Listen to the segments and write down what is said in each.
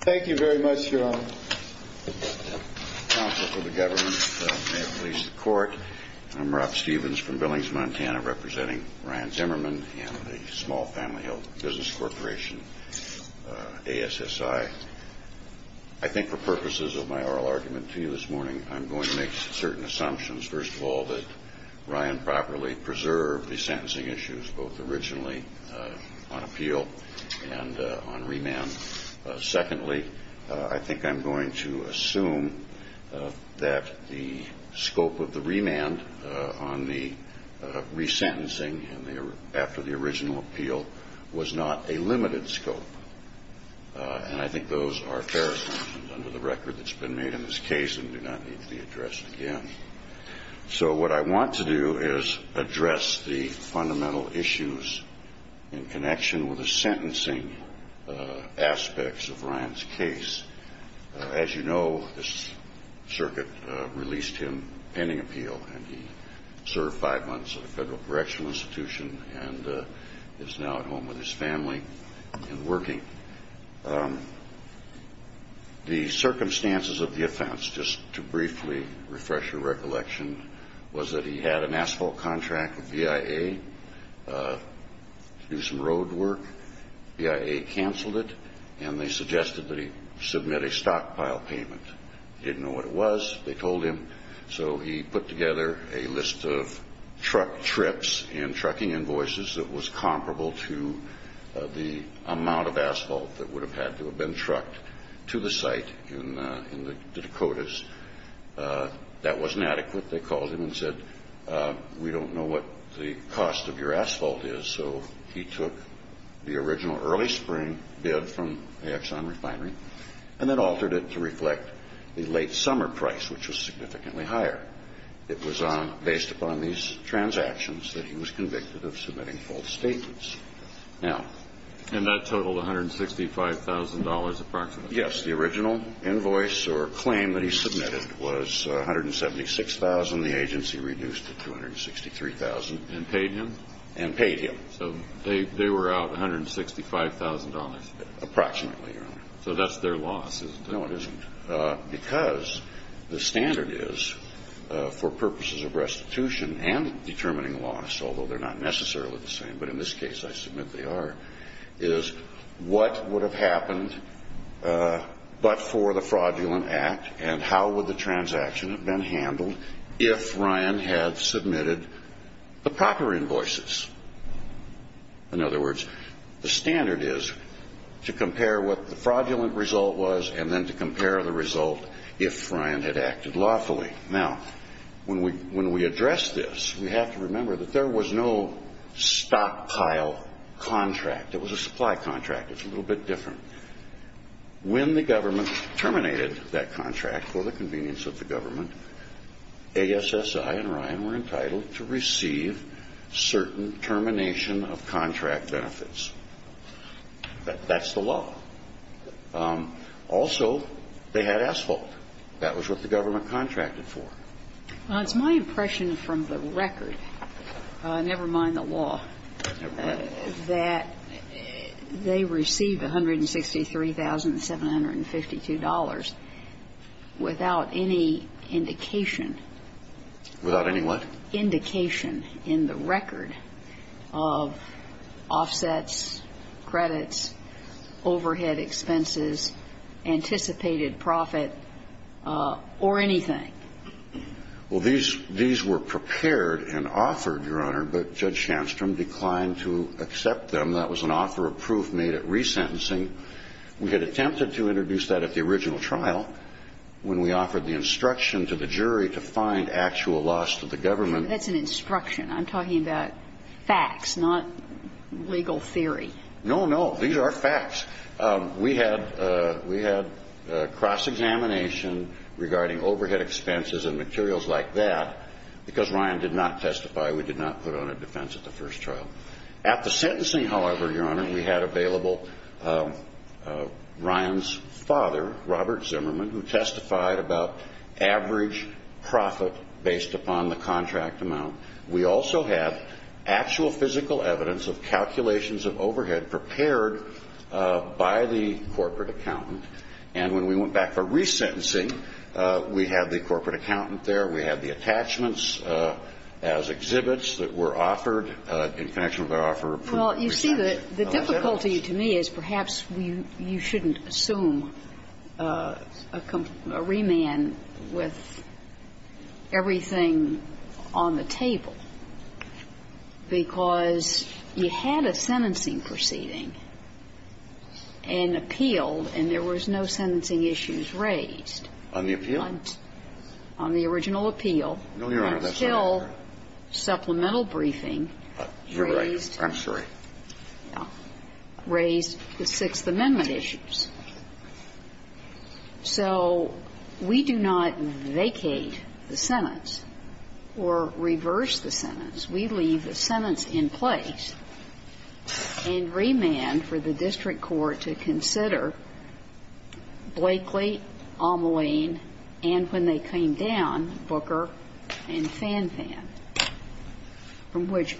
Thank you very much, Your Honor. Counsel to the government, may it please the Court, I'm Rob Stephens from Billings, Montana, representing Ryan Zimmerman and the Small Family Health Business Corporation, ASSI. I think for purposes of my oral argument to you this morning, I'm going to make certain assumptions. First of all, that Ryan properly preserved the sentencing issues, both originally on appeal and on remand. Secondly, I think I'm going to assume that the scope of the remand on the resentencing after the original appeal was not a limited scope. And I think those are fair assumptions under the record that's been made in this case and do not need to be addressed again. So what I want to do is address the fundamental issues in connection with the sentencing aspects of Ryan's case. As you know, this circuit released him pending appeal, and he served five months at a federal correctional institution and is now at home with his family and working. The circumstances of the offense, just to briefly refresh your recollection, was that he had an asphalt contract with VIA to do some road work. VIA canceled it, and they suggested that he submit a stockpile payment. They didn't know what it was. They told him. So he put together a list of truck trips and trucking invoices that was comparable to the amount of asphalt that would have had to have been trucked to the site in the Dakotas. That wasn't adequate. They called him and said, we don't know what the cost of your asphalt is. So he took the original early spring bid from Axon Refinery and then altered it to reflect the late summer price, which was significantly higher. And he was convicted of submitting false statements. And that totaled $165,000 approximately? Yes. The original invoice or claim that he submitted was $176,000. The agency reduced it to $263,000. And paid him? And paid him. So they were out $165,000? Approximately, Your Honor. So that's their loss, isn't it? No, it isn't. Because the standard is, for purposes of restitution and determining loss, although they're not necessarily the same, but in this case I submit they are, is what would have happened but for the fraudulent act and how would the transaction have been handled if Ryan had submitted the proper invoices? In other words, the standard is to compare what the fraudulent result was and then to compare the result if Ryan had acted lawfully. Now, when we address this, we have to remember that there was no stockpile contract. It was a supply contract. It's a little bit different. When the government terminated that contract for the convenience of the government, ASSI and Ryan were entitled to receive certain termination of contract benefits. That's the law. Also, they had asphalt. That was what the government contracted for. Well, it's my impression from the record, never mind the law, that they received $163,752 without any indication. Without any what? Indication in the record of offsets, credits, overhead expenses, anticipated profit, or anything. Well, these were prepared and offered, Your Honor, but Judge Shandstrom declined to accept them. That was an offer of proof made at resentencing. We had attempted to introduce that at the original trial when we offered the instruction to the jury to find actual loss to the government. That's an instruction. I'm talking about facts, not legal theory. No, no. These are facts. We had cross-examination regarding overhead expenses and materials like that. Because Ryan did not testify, we did not put on a defense at the first trial. At the sentencing, however, Your Honor, we had available Ryan's father, Robert Zimmerman, who testified about average profit based upon the contract amount. We also had actual physical evidence of calculations of overhead prepared by the corporate accountant. And when we went back for resentencing, we had the corporate accountant there. We had the attachments as exhibits that were offered in connection with our offer of proof. Well, you see, the difficulty to me is perhaps you shouldn't assume a remand with everything on the table, because you had a sentencing proceeding and appealed and there was no sentencing issues raised. On the appeal? On the original appeal. No, Your Honor, that's not what I'm talking about. Until supplemental briefing raised the Sixth Amendment issues. So we do not vacate the sentence or reverse the sentence. We leave the sentence in place and remand for the district court to consider Blakely, Omeline, and when they came down, Booker, and Fanfan, from which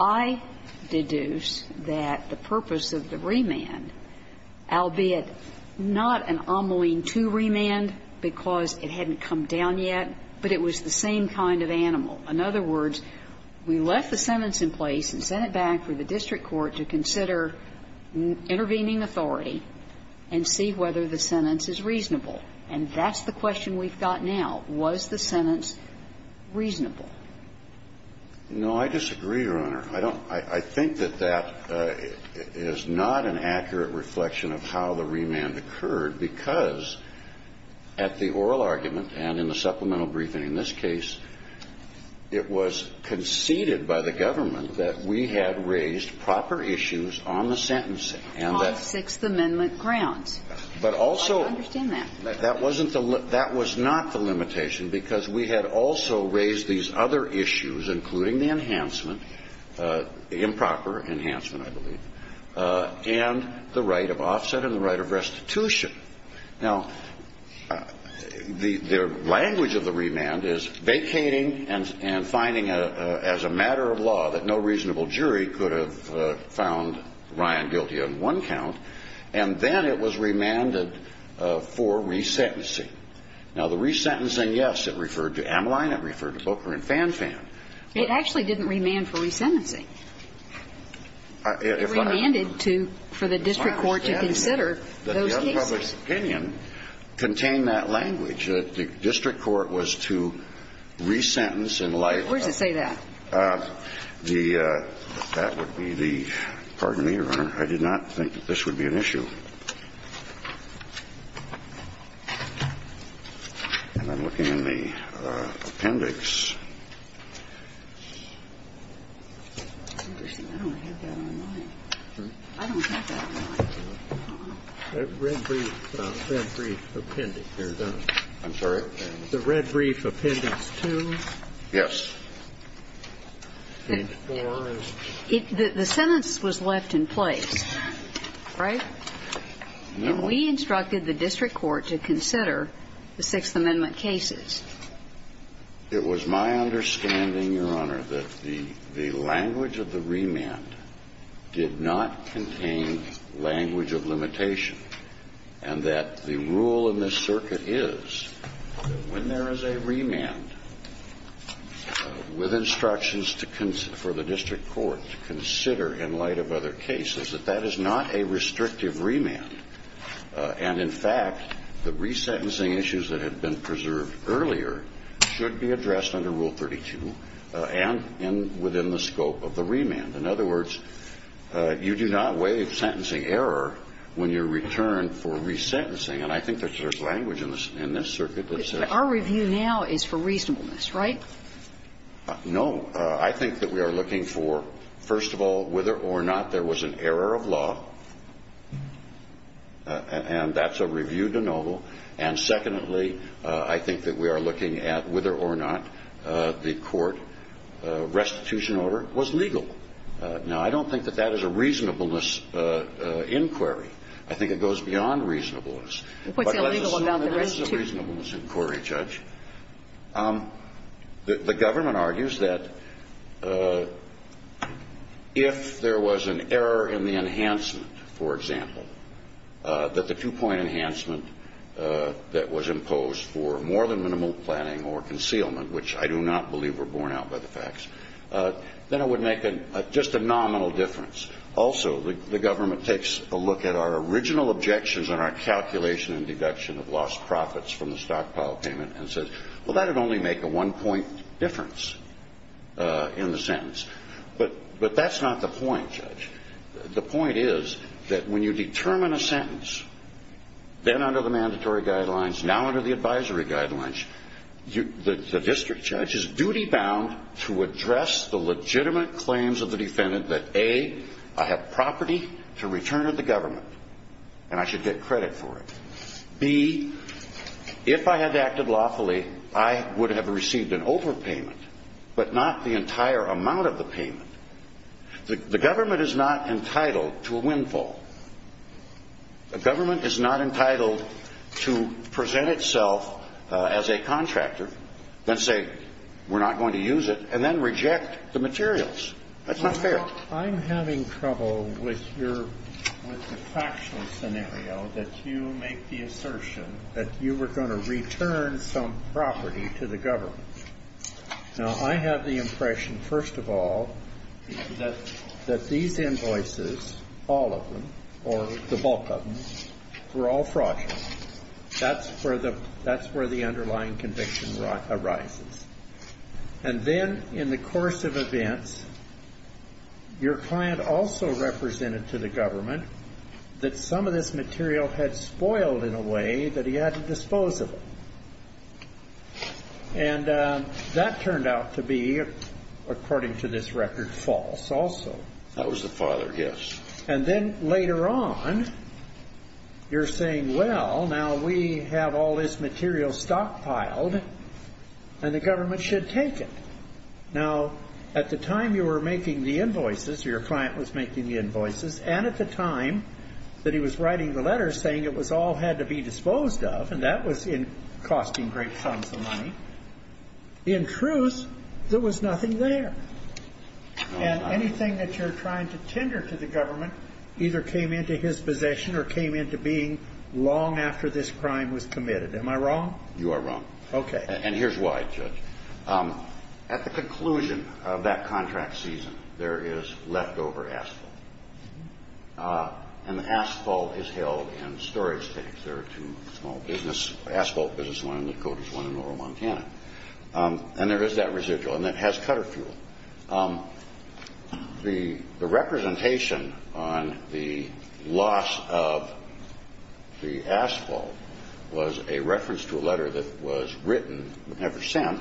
I deduce that the purpose of the remand, albeit not an Omeline II remand because it hadn't come down yet, but it was the same kind of animal. In other words, we left the sentence in place and sent it back for the district court to consider intervening authority and see whether the sentence is reasonable. And that's the question we've got now. Was the sentence reasonable? No, I disagree, Your Honor. I don't – I think that that is not an accurate reflection of how the remand occurred because at the oral argument and in the supplemental briefing in this case, it was conceded by the government that we had raised proper issues on the sentencing and that – On Sixth Amendment grounds. But also – I don't understand that. That wasn't the – that was not the limitation because we had also raised these other issues, including the enhancement, improper enhancement, I believe, and the right of offset and the right of restitution. Now, the language of the remand is vacating and finding as a matter of law that no reasonable jury could have found Ryan guilty on one count, and then it was remanded for resentencing. Now, the resentencing, yes, it referred to Ameline, it referred to Booker and Fanfan. It actually didn't remand for resentencing. It remanded to – for the district court to consider those cases. It's my understanding that the other public's opinion contained that language, that the district court was to resentence in light of the – Where does it say that? That would be the – pardon me, Your Honor. I did not think that this would be an issue. And I'm looking in the appendix. Interesting. I don't have that on mine. I don't have that on mine. The red brief appendix. I'm sorry? The red brief appendix 2. Yes. Page 4. The sentence was left in place, right? And we instructed the district court to consider the Sixth Amendment cases. It was my understanding, Your Honor, that the language of the remand did not contain language of limitation, and that the rule in this circuit is when there is a remand with instructions to – for the district court to consider in light of other cases, that that is not a restrictive remand. And, in fact, the resentencing issues that had been preserved earlier should be addressed under Rule 32 and within the scope of the remand. In other words, you do not waive sentencing error when you're returned for resentencing. And I think there's language in this circuit that says that. But our review now is for reasonableness, right? No. I think that we are looking for, first of all, whether or not there was an error of law, and that's a review de novo. And, secondly, I think that we are looking at whether or not the court restitution order was legal. Now, I don't think that that is a reasonableness inquiry. I think it goes beyond reasonableness. What's illegal about the restitution? It's a reasonableness inquiry, Judge. The government argues that if there was an error in the enhancement, for example, that the two-point enhancement that was imposed for more than minimal planning or concealment, which I do not believe were borne out by the facts, then it would make just a nominal difference. Also, the government takes a look at our original objections and our calculation and deduction of lost profits from the stockpile payment and says, well, that would only make a one-point difference in the sentence. But that's not the point, Judge. The point is that when you determine a sentence, then under the mandatory guidelines, now under the advisory guidelines, the district judge is duty-bound to address the legitimate claims of the defendant that, A, I have property to return to the government and I should get credit for it. B, if I had acted lawfully, I would have received an overpayment, but not the entire amount of the payment. The government is not entitled to a windfall. The government is not entitled to present itself as a contractor, then say we're not going to use it, and then reject the materials. That's not fair. I'm having trouble with your, with the factual scenario that you make the assertion that you were going to return some property to the government. Now, I have the impression, first of all, that these invoices, all of them, or the bulk of them, were all fraudulent. That's where the underlying conviction arises. And then in the course of events, your client also represented to the government that some of this material had spoiled in a way that he had to dispose of it. And that turned out to be, according to this record, false also. That was the father, yes. And then later on, you're saying, well, now we have all this material stockpiled, and the government should take it. Now, at the time you were making the invoices, or your client was making the invoices, and at the time that he was writing the letter saying it all had to be disposed of, and that was costing great sums of money, in truth, there was nothing there. And anything that you're trying to tender to the government either came into his possession or came into being long after this crime was committed. Am I wrong? You are wrong. Okay. And here's why, Judge. At the conclusion of that contract season, there is leftover asphalt. And the asphalt is held in storage tanks. There are two small asphalt businesses, one in Dakota and one in rural Montana. And there is that residual, and it has cutter fuel. The representation on the loss of the asphalt was a reference to a letter that was written, never sent,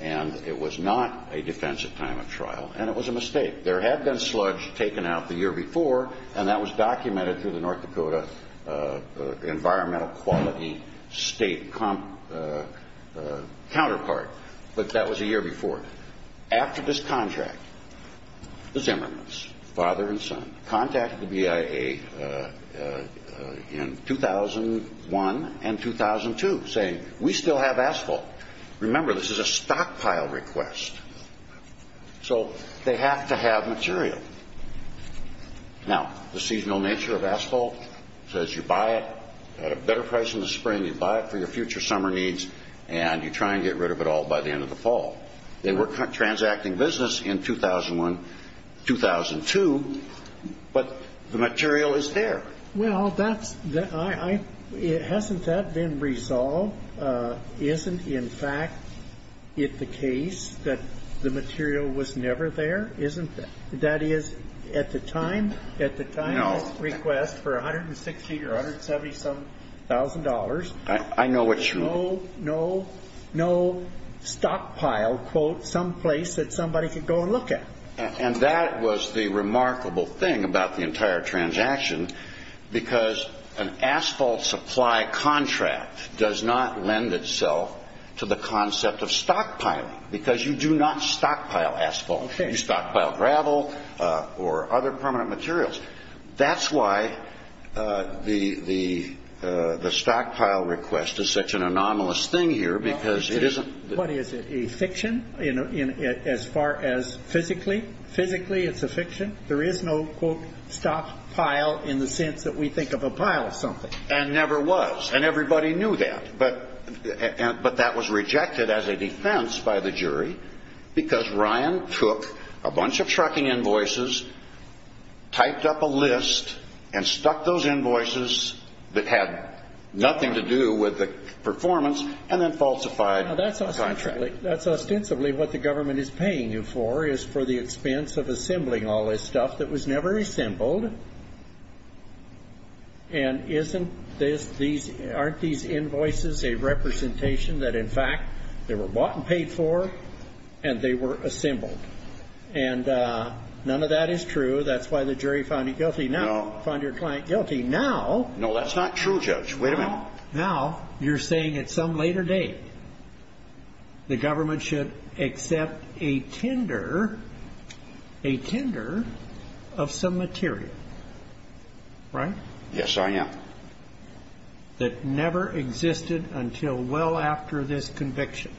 and it was not a defensive time of trial. And it was a mistake. There had been sludge taken out the year before, and that was documented through the North Dakota Environmental Quality State counterpart. But that was a year before. After this contract, the Zimmermans, father and son, contacted the BIA in 2001 and 2002 saying, We still have asphalt. Remember, this is a stockpile request. So they have to have material. Now, the seasonal nature of asphalt says you buy it at a better price in the spring, you buy it for your future summer needs, and you try and get rid of it all by the end of the fall. They were transacting business in 2001, 2002, but the material is there. Well, hasn't that been resolved? Isn't, in fact, it the case that the material was never there? Isn't that? That is, at the time, at the time of this request for $160,000 or $170,000. I know it's true. There was no, no, no stockpile, quote, someplace that somebody could go and look at. And that was the remarkable thing about the entire transaction, because an asphalt supply contract does not lend itself to the concept of stockpiling, because you do not stockpile asphalt. You stockpile gravel or other permanent materials. That's why the stockpile request is such an anomalous thing here, because it isn't. What is it, a fiction as far as physically? Physically, it's a fiction. There is no, quote, stockpile in the sense that we think of a pile of something. And never was, and everybody knew that. But that was rejected as a defense by the jury, because Ryan took a bunch of trucking invoices, typed up a list, and stuck those invoices that had nothing to do with the performance, and then falsified the contract. Now, that's ostensibly what the government is paying you for, is for the expense of assembling all this stuff that was never assembled. They were bought and paid for, and they were assembled. And none of that is true. That's why the jury found it guilty. No. Found your client guilty. Now. No, that's not true, Judge. Wait a minute. Now, you're saying at some later date, the government should accept a tender, a tender of some material, right? Yes, I am. That never existed until well after this conviction.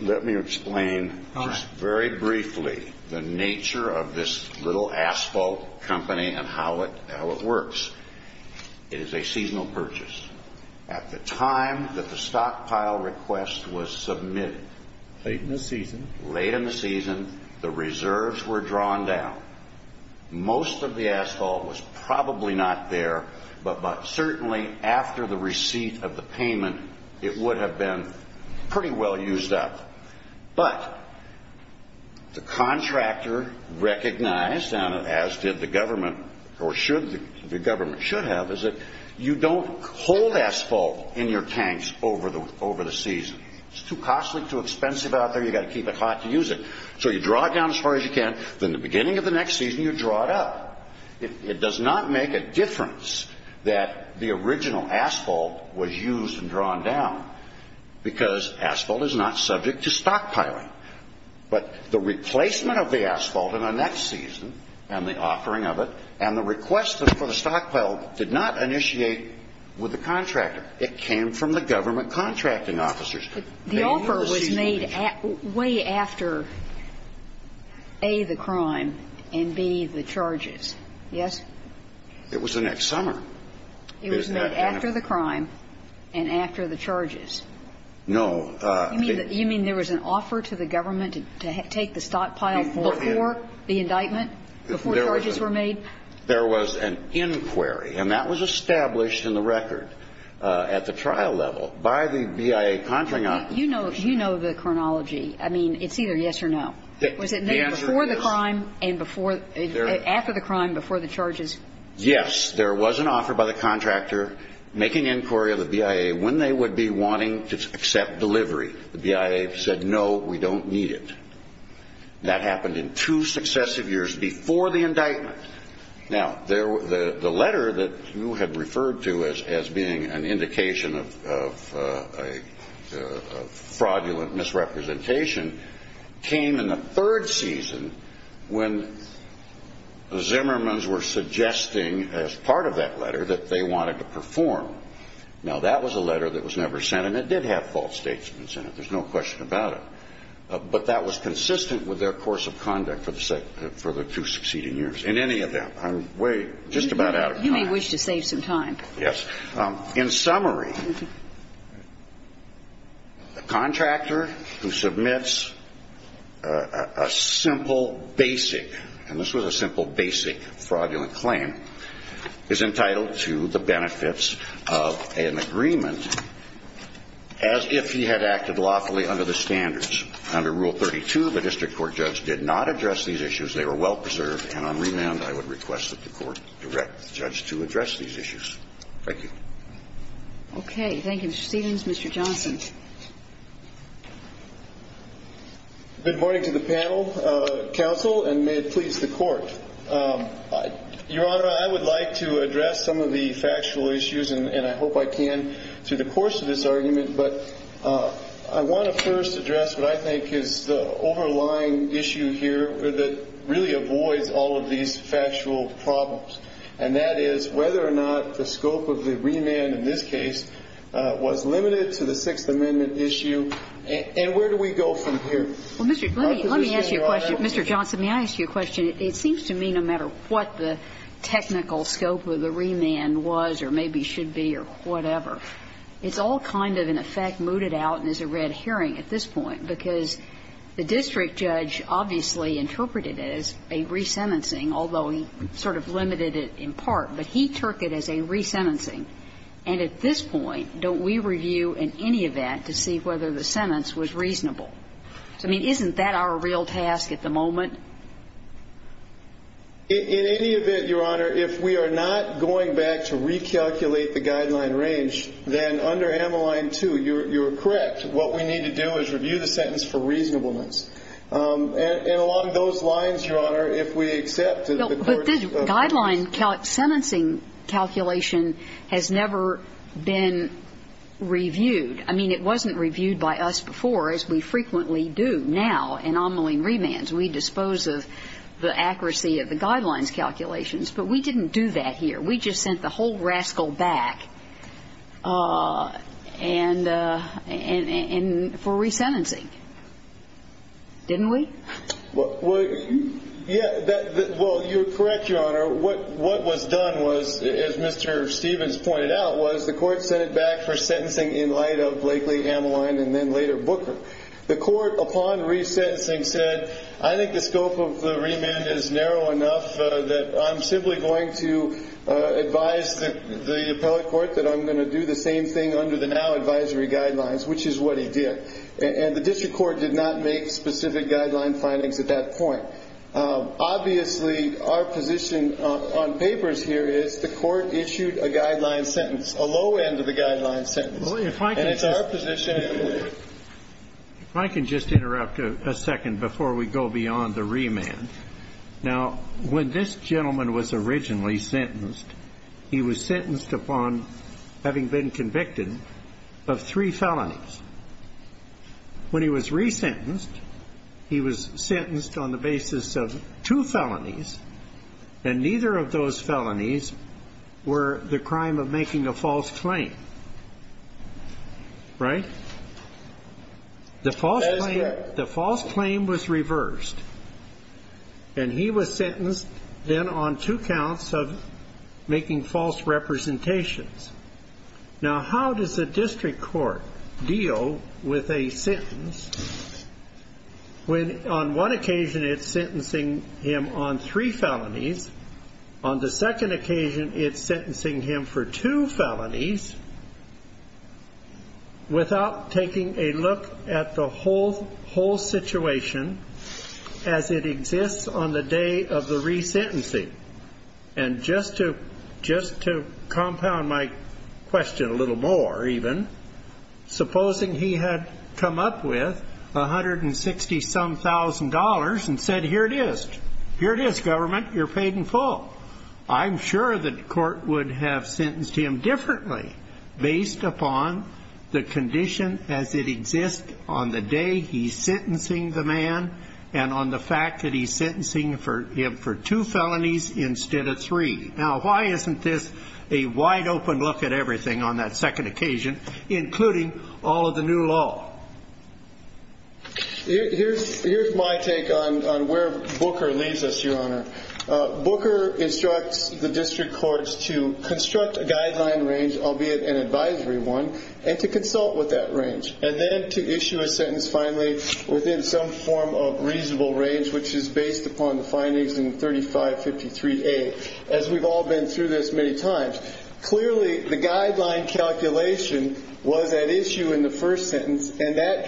Let me explain just very briefly the nature of this little asphalt company and how it works. It is a seasonal purchase. At the time that the stockpile request was submitted. Late in the season. Late in the season. The reserves were drawn down. Most of the asphalt was probably not there, but certainly after the receipt of the payment, it would have been pretty well used up. But the contractor recognized, and as did the government, or should the government, should have, is that you don't hold asphalt in your tanks over the season. It's too costly, too expensive out there. You've got to keep it hot to use it. So you draw it down as far as you can. In the beginning of the next season, you draw it up. It does not make a difference that the original asphalt was used and drawn down, because asphalt is not subject to stockpiling. But the replacement of the asphalt in the next season and the offering of it and the request for the stockpile did not initiate with the contractor. It came from the government contracting officers. The offer was made way after, A, the crime, and, B, the charges. Yes? It was the next summer. It was made after the crime and after the charges. No. You mean there was an offer to the government to take the stockpile before the indictment, before the charges were made? There was an inquiry, and that was established in the record at the trial level by the BIA contracting officers. You know the chronology. I mean, it's either yes or no. The answer is? Was it made before the crime and after the crime, before the charges? Yes. There was an offer by the contractor making inquiry of the BIA when they would be wanting to accept delivery. The BIA said, no, we don't need it. That happened in two successive years before the indictment. Now, the letter that you had referred to as being an indication of fraudulent misrepresentation came in the third season when the Zimmermans were suggesting as part of that letter that they wanted to perform. Now, that was a letter that was never sent, and it did have false statements in it. There's no question about it. But that was consistent with their course of conduct for the two succeeding years. In any event, I'm way just about out of time. You may wish to save some time. Yes. In summary, a contractor who submits a simple basic, and this was a simple basic fraudulent claim, is entitled to the benefits of an agreement as if he had acted lawfully under the standards. Under Rule 32, the district court judge did not address these issues. They were well preserved. And on remand, I would request that the court direct the judge to address these issues. Thank you. Okay. Thank you, Mr. Stevens. Mr. Johnson. Good morning to the panel, counsel, and may it please the Court. Your Honor, I would like to address some of the factual issues, and I hope I can through the course of this argument. But I want to first address what I think is the overlying issue here that really avoids all of these factual problems, and that is whether or not the scope of the remand in this case was limited to the Sixth Amendment issue. And where do we go from here? Mr. Johnson, may I ask you a question? It seems to me, no matter what the technical scope of the remand was or maybe should be or whatever, it's all kind of, in effect, mooted out and is a red herring at this point, because the district judge obviously interpreted it as a resentencing, although he sort of limited it in part. But he took it as a resentencing. And at this point, don't we review in any event to see whether the sentence was reasonable? I mean, isn't that our real task at the moment? In any event, Your Honor, if we are not going back to recalculate the guideline range, then under Ameline 2, you are correct. What we need to do is review the sentence for reasonableness. And along those lines, Your Honor, if we accept the court's release. But this guideline sentencing calculation has never been reviewed. I mean, it wasn't reviewed by us before, as we frequently do now in omniline remands. We dispose of the accuracy of the guidelines calculations. But we didn't do that here. We just sent the whole rascal back for resentencing, didn't we? Well, you're correct, Your Honor. What was done was, as Mr. Stevens pointed out, was the court sent it back for sentencing in light of Blakely, Ameline, and then later Booker. The court, upon resentencing, said, I think the scope of the remand is narrow enough that I'm simply going to advise the appellate court that I'm going to do the same thing under the now advisory guidelines, which is what he did. And the district court did not make specific guideline findings at that point. Obviously, our position on papers here is the court issued a guideline sentence, a low end of the guideline sentence. Well, if I can just interrupt a second before we go beyond the remand. Now, when this gentleman was originally sentenced, he was sentenced upon having been convicted of three felonies. When he was resentenced, he was sentenced on the basis of two felonies, and neither of those felonies were the crime of making a false claim. Right? The false claim was reversed, and he was sentenced then on two counts of making false representations. Now, how does the district court deal with a sentence when on one occasion it's sentencing him on three felonies, on the second occasion it's sentencing him for two felonies, without taking a look at the whole situation as it exists on the day of the resentencing? And just to compound my question a little more even, supposing he had come up with $160-some-thousand and said, here it is. Here it is, government. You're paid in full. I'm sure the court would have sentenced him differently based upon the condition as it exists on the day he's sentencing the man and on the fact that he's sentencing him for two felonies instead of three. Now, why isn't this a wide-open look at everything on that second occasion, including all of the new law? Here's my take on where Booker leads us, Your Honor. Booker instructs the district courts to construct a guideline range, albeit an advisory one, and to consult with that range, and then to issue a sentence finally within some form of reasonable range, which is based upon the findings in 3553A, as we've all been through this many times. Clearly, the guideline calculation was at issue in the first sentence, and that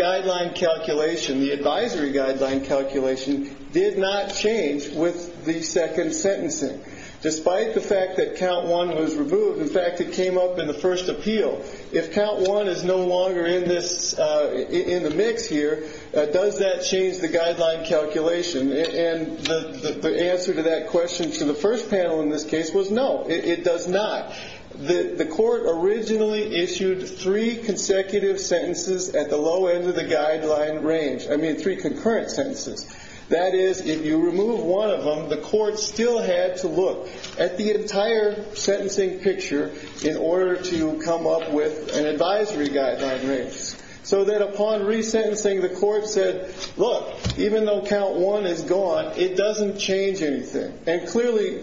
Despite the fact that count one was removed. In fact, it came up in the first appeal. If count one is no longer in the mix here, does that change the guideline calculation? And the answer to that question to the first panel in this case was no, it does not. The court originally issued three consecutive sentences at the low end of the guideline range. I mean, three concurrent sentences. That is, if you remove one of them, the court still had to look at the entire sentencing picture in order to come up with an advisory guideline range. So that upon resentencing, the court said, look, even though count one is gone, it doesn't change anything. And clearly,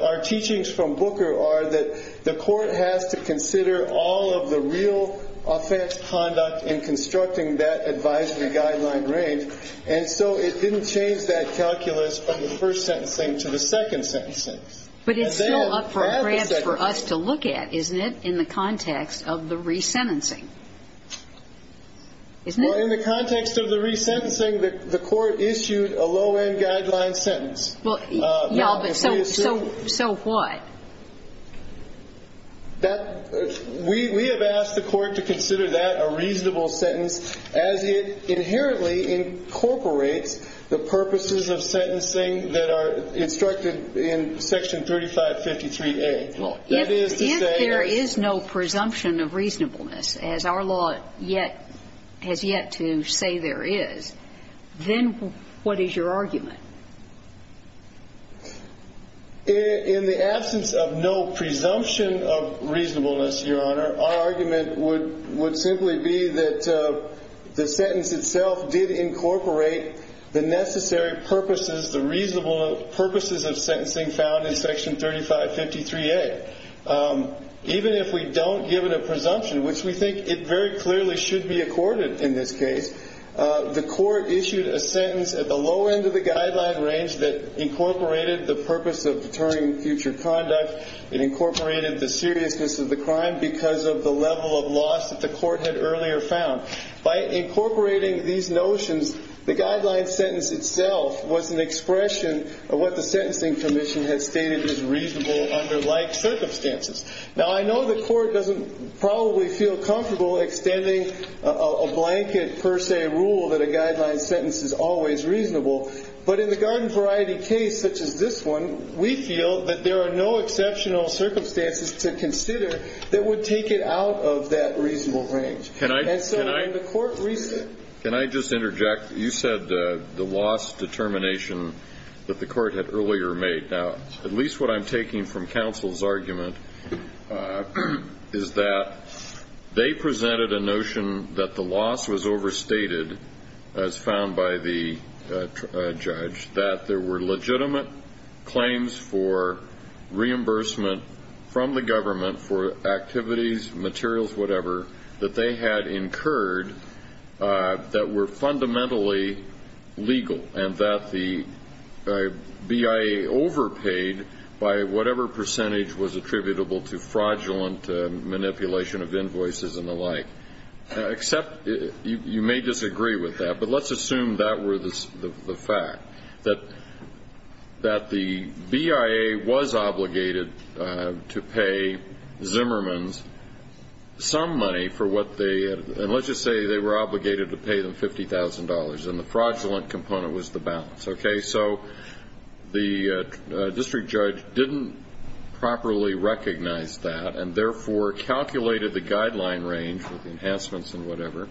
our teachings from Booker are that the court has to consider all of the real offense conduct in constructing that advisory guideline range. And so it didn't change that calculus from the first sentencing to the second sentencing. But it's still up for grabs for us to look at, isn't it, in the context of the resentencing? Isn't it? Well, in the context of the resentencing, the court issued a low-end guideline sentence. Well, yeah, but so what? That we have asked the court to consider that a reasonable sentence as it inherently incorporates the purposes of sentencing that are instructed in Section 3553A. Well, if there is no presumption of reasonableness, as our law yet has yet to say there is, then what is your argument? In the absence of no presumption of reasonableness, Your Honor, our argument would simply be that the sentence itself did incorporate the necessary purposes, the reasonable purposes of sentencing found in Section 3553A. Even if we don't give it a presumption, which we think it very clearly should be accorded in this case, the court issued a sentence at the low end of the guideline range that incorporated the purpose of deterring future conduct. It incorporated the seriousness of the crime because of the level of loss that the court had earlier found. By incorporating these notions, the guideline sentence itself was an expression of what the Sentencing Commission had stated as reasonable under like circumstances. Now, I know the court doesn't probably feel comfortable extending a blanket per sentence is always reasonable, but in the garden variety case, such as this one, we feel that there are no exceptional circumstances to consider that would take it out of that reasonable range. And so when the court reasoned... Can I just interject? You said the loss determination that the court had earlier made. Now, at least what I'm taking from counsel's argument is that they presented a notion that the loss was overstated, as found by the judge, that there were legitimate claims for reimbursement from the government for activities, materials, whatever, that they had incurred that were fundamentally legal and that the BIA overpaid by whatever percentage was attributable to fraudulent manipulation of You may disagree with that, but let's assume that were the fact, that the BIA was obligated to pay Zimmermans some money for what they had. And let's just say they were obligated to pay them $50,000, and the fraudulent component was the balance, okay? So the district judge didn't properly recognize that and therefore calculated the guideline range, the enhancements and whatever,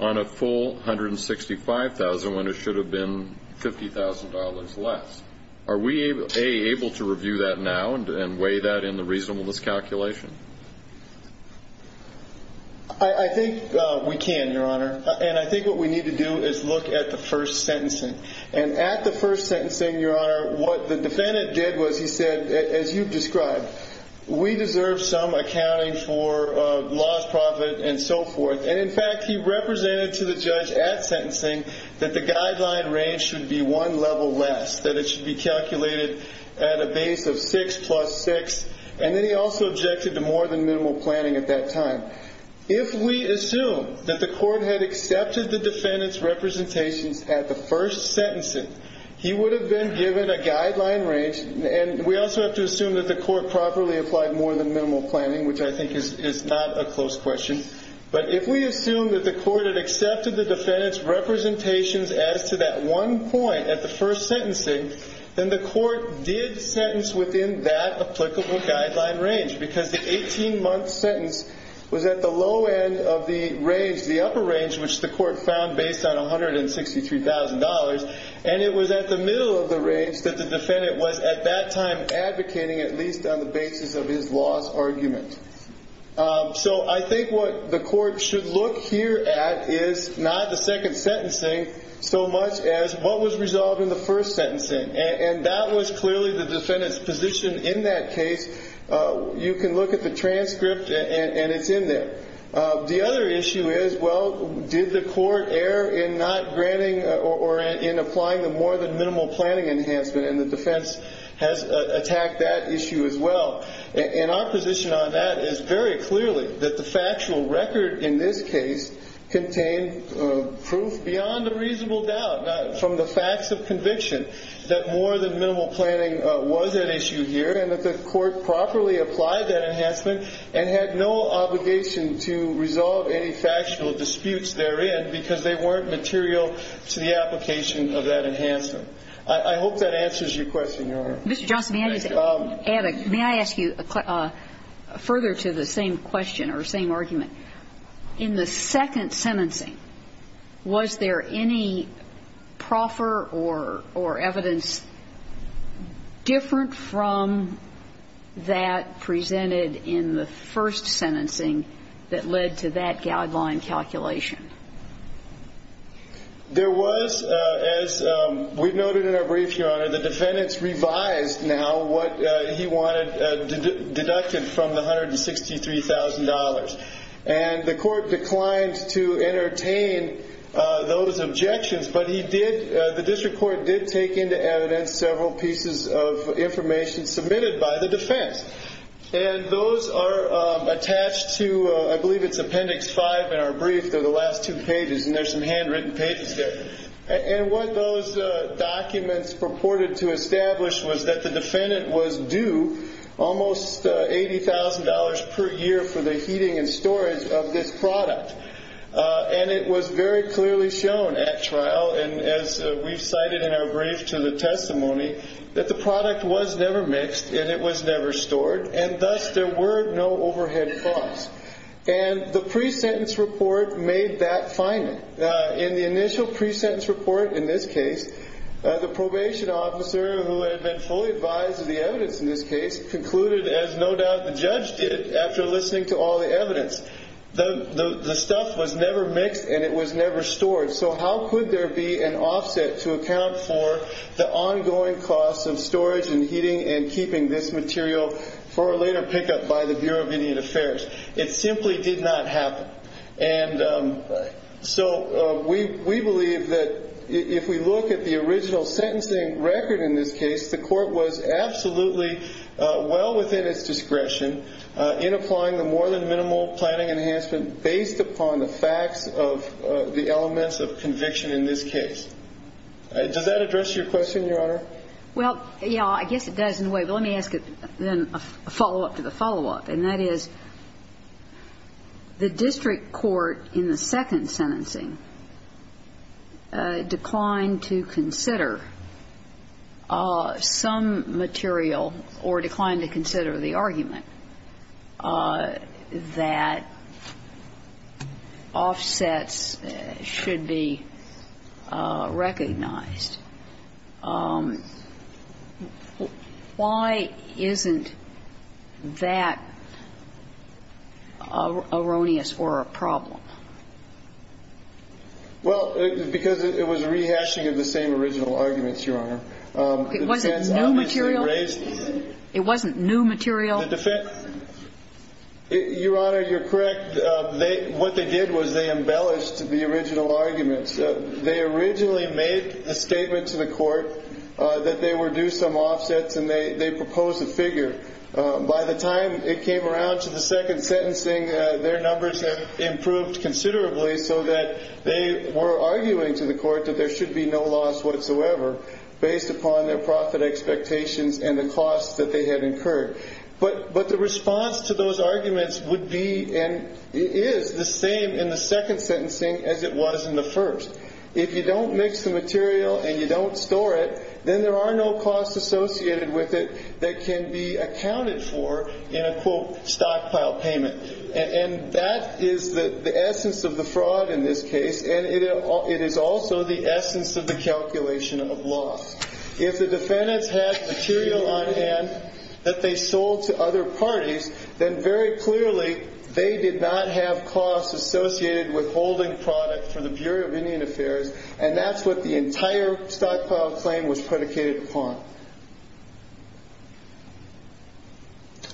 on a full $165,000 when it should have been $50,000 less. Are we, A, able to review that now and weigh that in the reasonableness calculation? I think we can, Your Honor. And I think what we need to do is look at the first sentencing. And at the first sentencing, Your Honor, what the defendant did was he said, as you've described, we deserve some accounting for lost profit and so forth. And, in fact, he represented to the judge at sentencing that the guideline range should be one level less, that it should be calculated at a base of 6 plus 6. And then he also objected to more than minimal planning at that time. If we assume that the court had accepted the defendant's representations at the first sentencing, he would have been given a guideline range, and we also have to assume that the court properly applied more than minimal planning, which I think is not a close question. But if we assume that the court had accepted the defendant's representations as to that one point at the first sentencing, then the court did sentence within that applicable guideline range because the 18-month sentence was at the low end of the range, the upper range, which the court found based on $163,000, and it was at the middle of the range that the defendant was, at that time, advocating at least on the basis of his loss argument. So I think what the court should look here at is not the second sentencing so much as what was resolved in the first sentencing. And that was clearly the defendant's position in that case. You can look at the transcript, and it's in there. The other issue is, well, did the court err in not granting or in applying the more than minimal planning enhancement, and the defense has attacked that issue as well. And our position on that is very clearly that the factual record in this case contained proof beyond a reasonable doubt from the facts of conviction that more than minimal planning was an issue here and that the court properly applied that enhancement and had no obligation to resolve any factual disputes therein because they weren't material to the application of that enhancement. I hope that answers your question, Your Honor. Mr. Johnson, may I add a question? May I ask you further to the same question or same argument? In the second sentencing, was there any proffer or evidence different from that presented in the first sentencing that led to that guideline calculation? There was. As we've noted in our brief, Your Honor, the defendants revised now what he wanted deducted from the $163,000. And the court declined to entertain those objections, but the district court did take into evidence several pieces of information submitted by the defense. And those are attached to, I believe it's Appendix 5 in our brief. They're the last two pages, and there's some handwritten pages there. And what those documents purported to establish was that the defendant was due almost $80,000 per year for the heating and storage of this product. And it was very clearly shown at trial, and as we've cited in our brief to the testimony, that the product was never mixed and it was never stored, and thus there were no overhead costs. And the pre-sentence report made that finding. In the initial pre-sentence report in this case, the probation officer who had been fully advised of the evidence in this case concluded, as no doubt the judge did after listening to all the evidence, the stuff was never mixed and it was never stored. So how could there be an offset to account for the ongoing costs of storage and heating and keeping this material for a later pickup by the Bureau of Indian Affairs? It simply did not happen. And so we believe that if we look at the original sentencing record in this case, the court was absolutely well within its discretion in applying the more than minimal planning enhancement based upon the facts of the elements of conviction in this case. Does that address your question, Your Honor? Well, yeah, I guess it does in a way. But let me ask then a follow-up to the follow-up, and that is the district court in the second sentencing declined to consider some material or declined to consider the argument that offsets should be recognized. Why isn't that erroneous or a problem? Well, because it was rehashing of the same original arguments, Your Honor. It wasn't new material? It wasn't new material? Your Honor, you're correct. What they did was they embellished the original arguments. They originally made the statement to the court that they were due some offsets, and they proposed a figure. By the time it came around to the second sentencing, their numbers had improved considerably so that they were arguing to the court that there should be no loss whatsoever based upon their profit expectations and the costs that they had incurred. But the response to those arguments would be and is the same in the second sentencing as it was in the first. If you don't mix the material and you don't store it, then there are no costs associated with it that can be accounted for in a, quote, stockpile payment. And that is the essence of the fraud in this case, and it is also the essence of the calculation of loss. If the defendants had material on hand that they sold to other parties, then very clearly they did not have costs associated with holding product for the Bureau of Indian Affairs, and that's what the entire stockpile claim was predicated upon.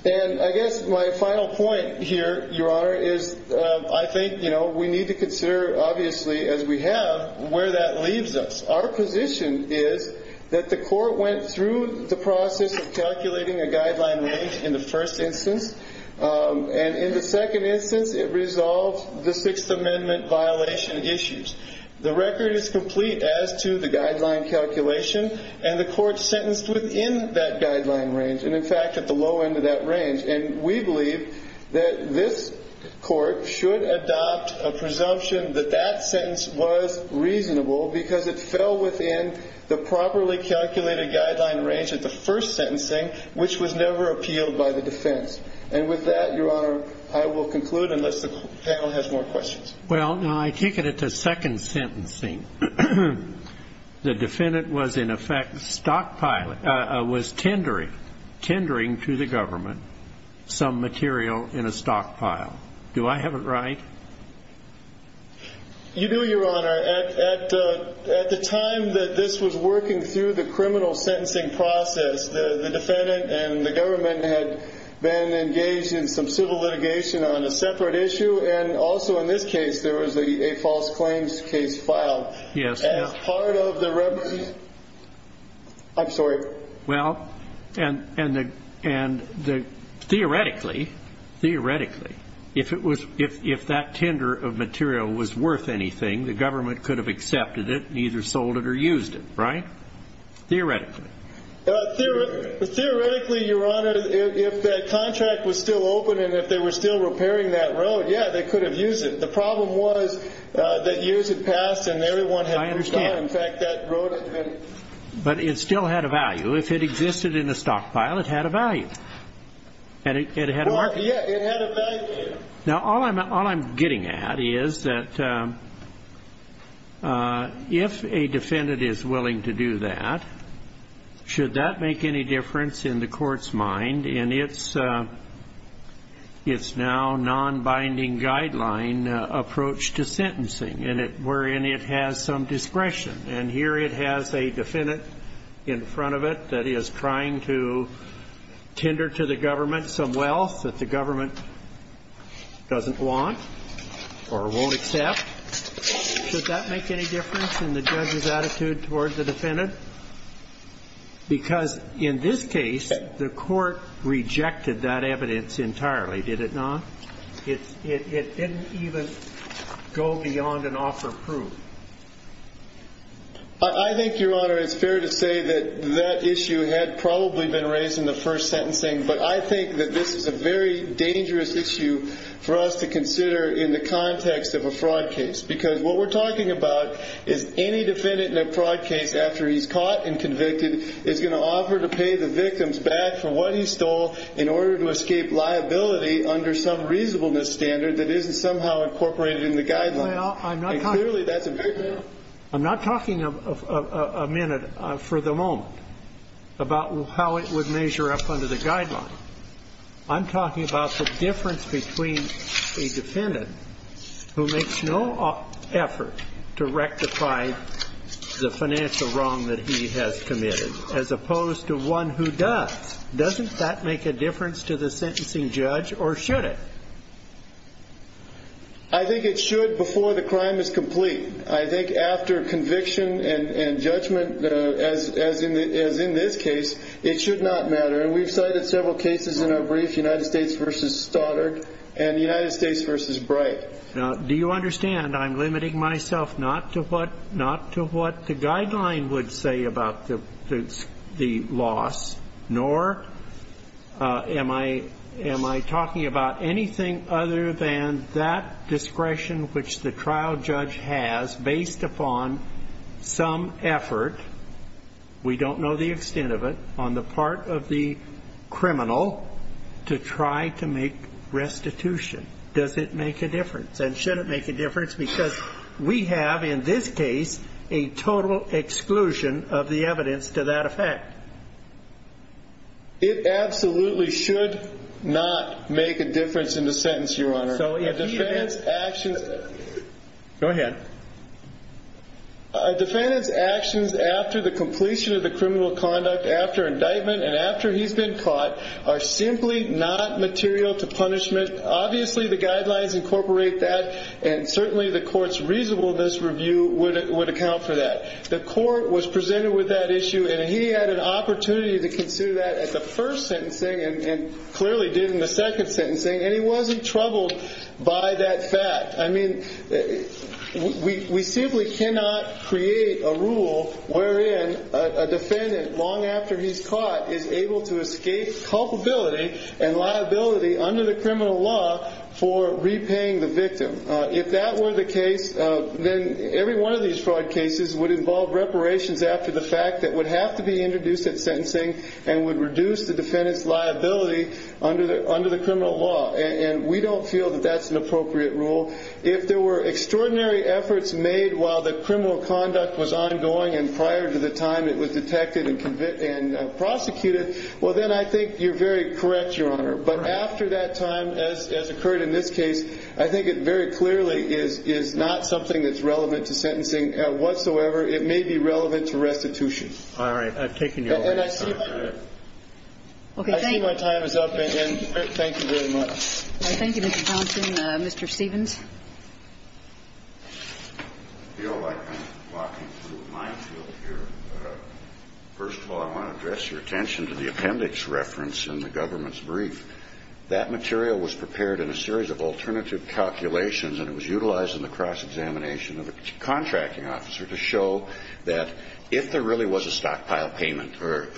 And I guess my final point here, Your Honor, is I think we need to consider, obviously, as we have, where that leaves us. Our position is that the court went through the process of calculating a guideline range in the first instance, and in the second instance it resolved the Sixth Amendment violation issues. The record is complete as to the guideline calculation, and the court sentenced within that guideline range, and in fact at the low end of that range. And we believe that this court should adopt a presumption that that sentence was reasonable because it fell within the properly calculated guideline range at the first sentencing, which was never appealed by the defense. And with that, Your Honor, I will conclude unless the panel has more questions. Well, now I take it at the second sentencing, the defendant was in effect tendering to the government some material in a stockpile. Do I have it right? You do, Your Honor. At the time that this was working through the criminal sentencing process, the defendant and the government had been engaged in some civil litigation on a separate issue, and also in this case there was a false claims case filed. Yes, Your Honor. As part of the reference. I'm sorry. Well, and theoretically, if that tender of material was worth anything, the government could have accepted it and either sold it or used it, right? Theoretically. Theoretically, Your Honor, if that contract was still open and if they were still repairing that road, yeah, they could have used it. The problem was that years had passed and everyone had moved on. I understand. In fact, that road had been. But it still had a value. If it existed in a stockpile, it had a value. Well, yeah, it had a value. Now, all I'm getting at is that if a defendant is willing to do that, should that make any difference in the court's mind in its now nonbinding guideline approach to sentencing, wherein it has some discretion. And here it has a defendant in front of it that is trying to tender to the government some wealth that the government doesn't want or won't accept. Should that make any difference in the judge's attitude toward the defendant? Because in this case, the court rejected that evidence entirely, did it not? It didn't even go beyond an offer of proof. I think, Your Honor, it's fair to say that that issue had probably been raised in the first sentencing. But I think that this is a very dangerous issue for us to consider in the context of a fraud case. Because what we're talking about is any defendant in a fraud case, after he's caught and convicted, is going to offer to pay the victims back for what he stole in order to escape liability under some reasonableness standard that isn't somehow incorporated in the guideline. And clearly, that's a victim. I'm not talking a minute, for the moment, about how it would measure up under the guideline. I'm talking about the difference between a defendant who makes no effort to rectify the financial wrong that he has committed as opposed to one who does. Doesn't that make a difference to the sentencing judge, or should it? I think it should before the crime is complete. I think after conviction and judgment, as in this case, it should not matter. We've cited several cases in our brief, United States v. Stoddard and United States v. Bright. Now, do you understand I'm limiting myself not to what the guideline would say about the loss, nor am I talking about anything other than that discretion which the trial judge has based upon some effort, we don't know the extent of it, on the part of the criminal to try to make restitution. Does it make a difference? And should it make a difference? Because we have, in this case, a total exclusion of the evidence to that effect. It absolutely should not make a difference in the sentence, Your Honor. So if the defendant's actions... Go ahead. A defendant's actions after the completion of the criminal conduct, after indictment, and after he's been caught are simply not material to punishment. Obviously, the guidelines incorporate that, and certainly the court's reasonableness review would account for that. The court was presented with that issue, and he had an opportunity to consider that at the first sentencing, and clearly did in the second sentencing, and he wasn't troubled by that fact. I mean, we simply cannot create a rule wherein a defendant, long after he's caught, is able to escape culpability and liability under the criminal law for repaying the victim. If that were the case, then every one of these fraud cases would involve reparations after the fact that would have to be introduced at sentencing and would reduce the defendant's liability under the criminal law, and we don't feel that that's an appropriate rule. If there were extraordinary efforts made while the criminal conduct was ongoing and prior to the time it was detected and prosecuted, well, then I think you're very correct, Your Honor. But after that time, as occurred in this case, I think it very clearly is not something that's relevant to sentencing whatsoever. It may be relevant to restitution. All right. I've taken your time. And I see my time is up, and thank you very much. Thank you, Mr. Thompson. Mr. Stevens. I feel like I'm walking through a minefield here. First of all, I want to address your attention to the appendix reference in the government's brief. That material was prepared in a series of alternative calculations, and it was utilized in the cross-examination of the contracting officer to show that if there really was a stockpile payment or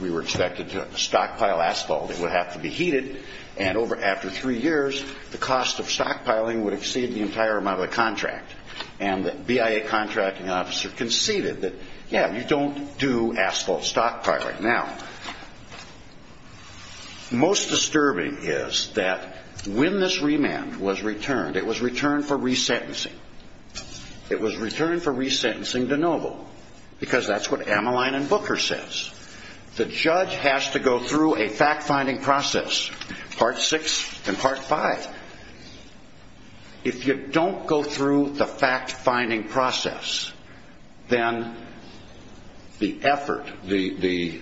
we were expected to stockpile asphalt, it would have to be heated, and after three years, the cost of stockpiling would exceed the entire amount of the contract. And the BIA contracting officer conceded that, yeah, you don't do asphalt stockpiling. Now, most disturbing is that when this remand was returned, it was returned for resentencing. It was returned for resentencing de Novo, because that's what Ameline and Booker says. The judge has to go through a fact-finding process, part 6 and part 5. If you don't go through the fact-finding process, then the effort, the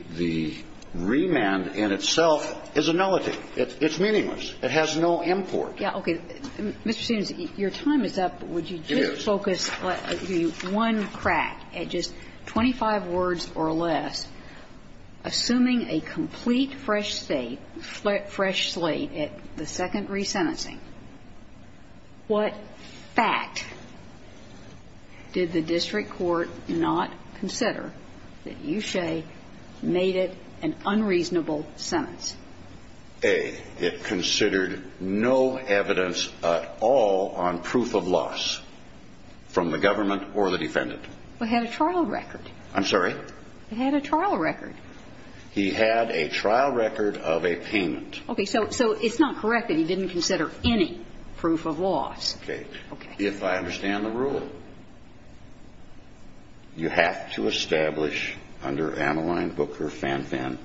remand in itself is a nullity. It's meaningless. It has no import. Yeah, okay. Mr. Stevens, your time is up. It is. Let me just focus one crack at just 25 words or less. Assuming a complete fresh slate at the second resentencing, what fact did the district court not consider that Ushe made it an unreasonable sentence? A, it considered no evidence at all on proof of loss from the government or the defendant. It had a trial record. I'm sorry? It had a trial record. He had a trial record of a payment. Okay, so it's not correct that he didn't consider any proof of loss. Okay. Okay. If I understand the rule, you have to establish under Ameline, Booker, Fan-Fan,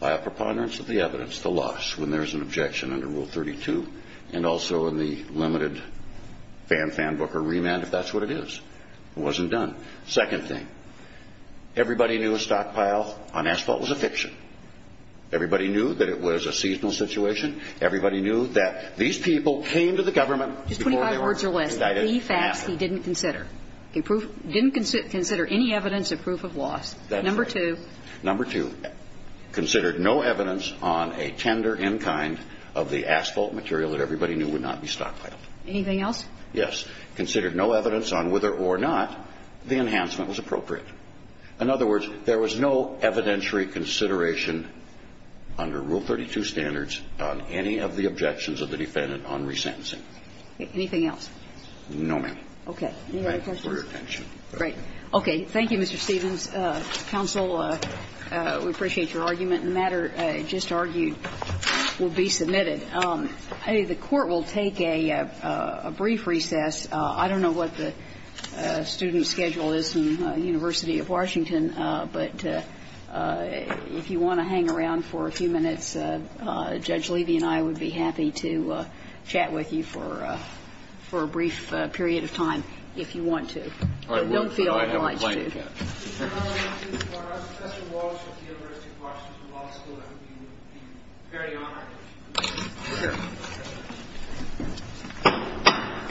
by a preponderance of the evidence, the loss when there's an objection under Rule 32 and also in the limited Fan-Fan, Booker, remand if that's what it is. It wasn't done. Second thing, everybody knew a stockpile on asphalt was a fiction. Everybody knew that it was a seasonal situation. Everybody knew that these people came to the government before they were indicted. Just 25 words or less, the facts he didn't consider. He didn't consider any evidence of proof of loss. That's right. Number two, considered no evidence on a tender in kind of the asphalt material that everybody knew would not be stockpiled. Anything else? Yes. Considered no evidence on whether or not the enhancement was appropriate. In other words, there was no evidentiary consideration under Rule 32 standards on any of the objections of the defendant on resentencing. Anything else? No, ma'am. Okay. Any other questions? Thank you for your attention. Great. Okay. Thank you, Mr. Stevens. Counsel, we appreciate your argument. The matter just argued will be submitted. The Court will take a brief recess. I don't know what the student schedule is in the University of Washington, but if you want to hang around for a few minutes, Judge Levy and I would be happy to chat with you for a brief period of time if you want to. I will. I have a blanket. I don't feel obliged to. If you have any questions for us, Professor Walsh of the University of Washington Law School, that would be a great honor. Sure.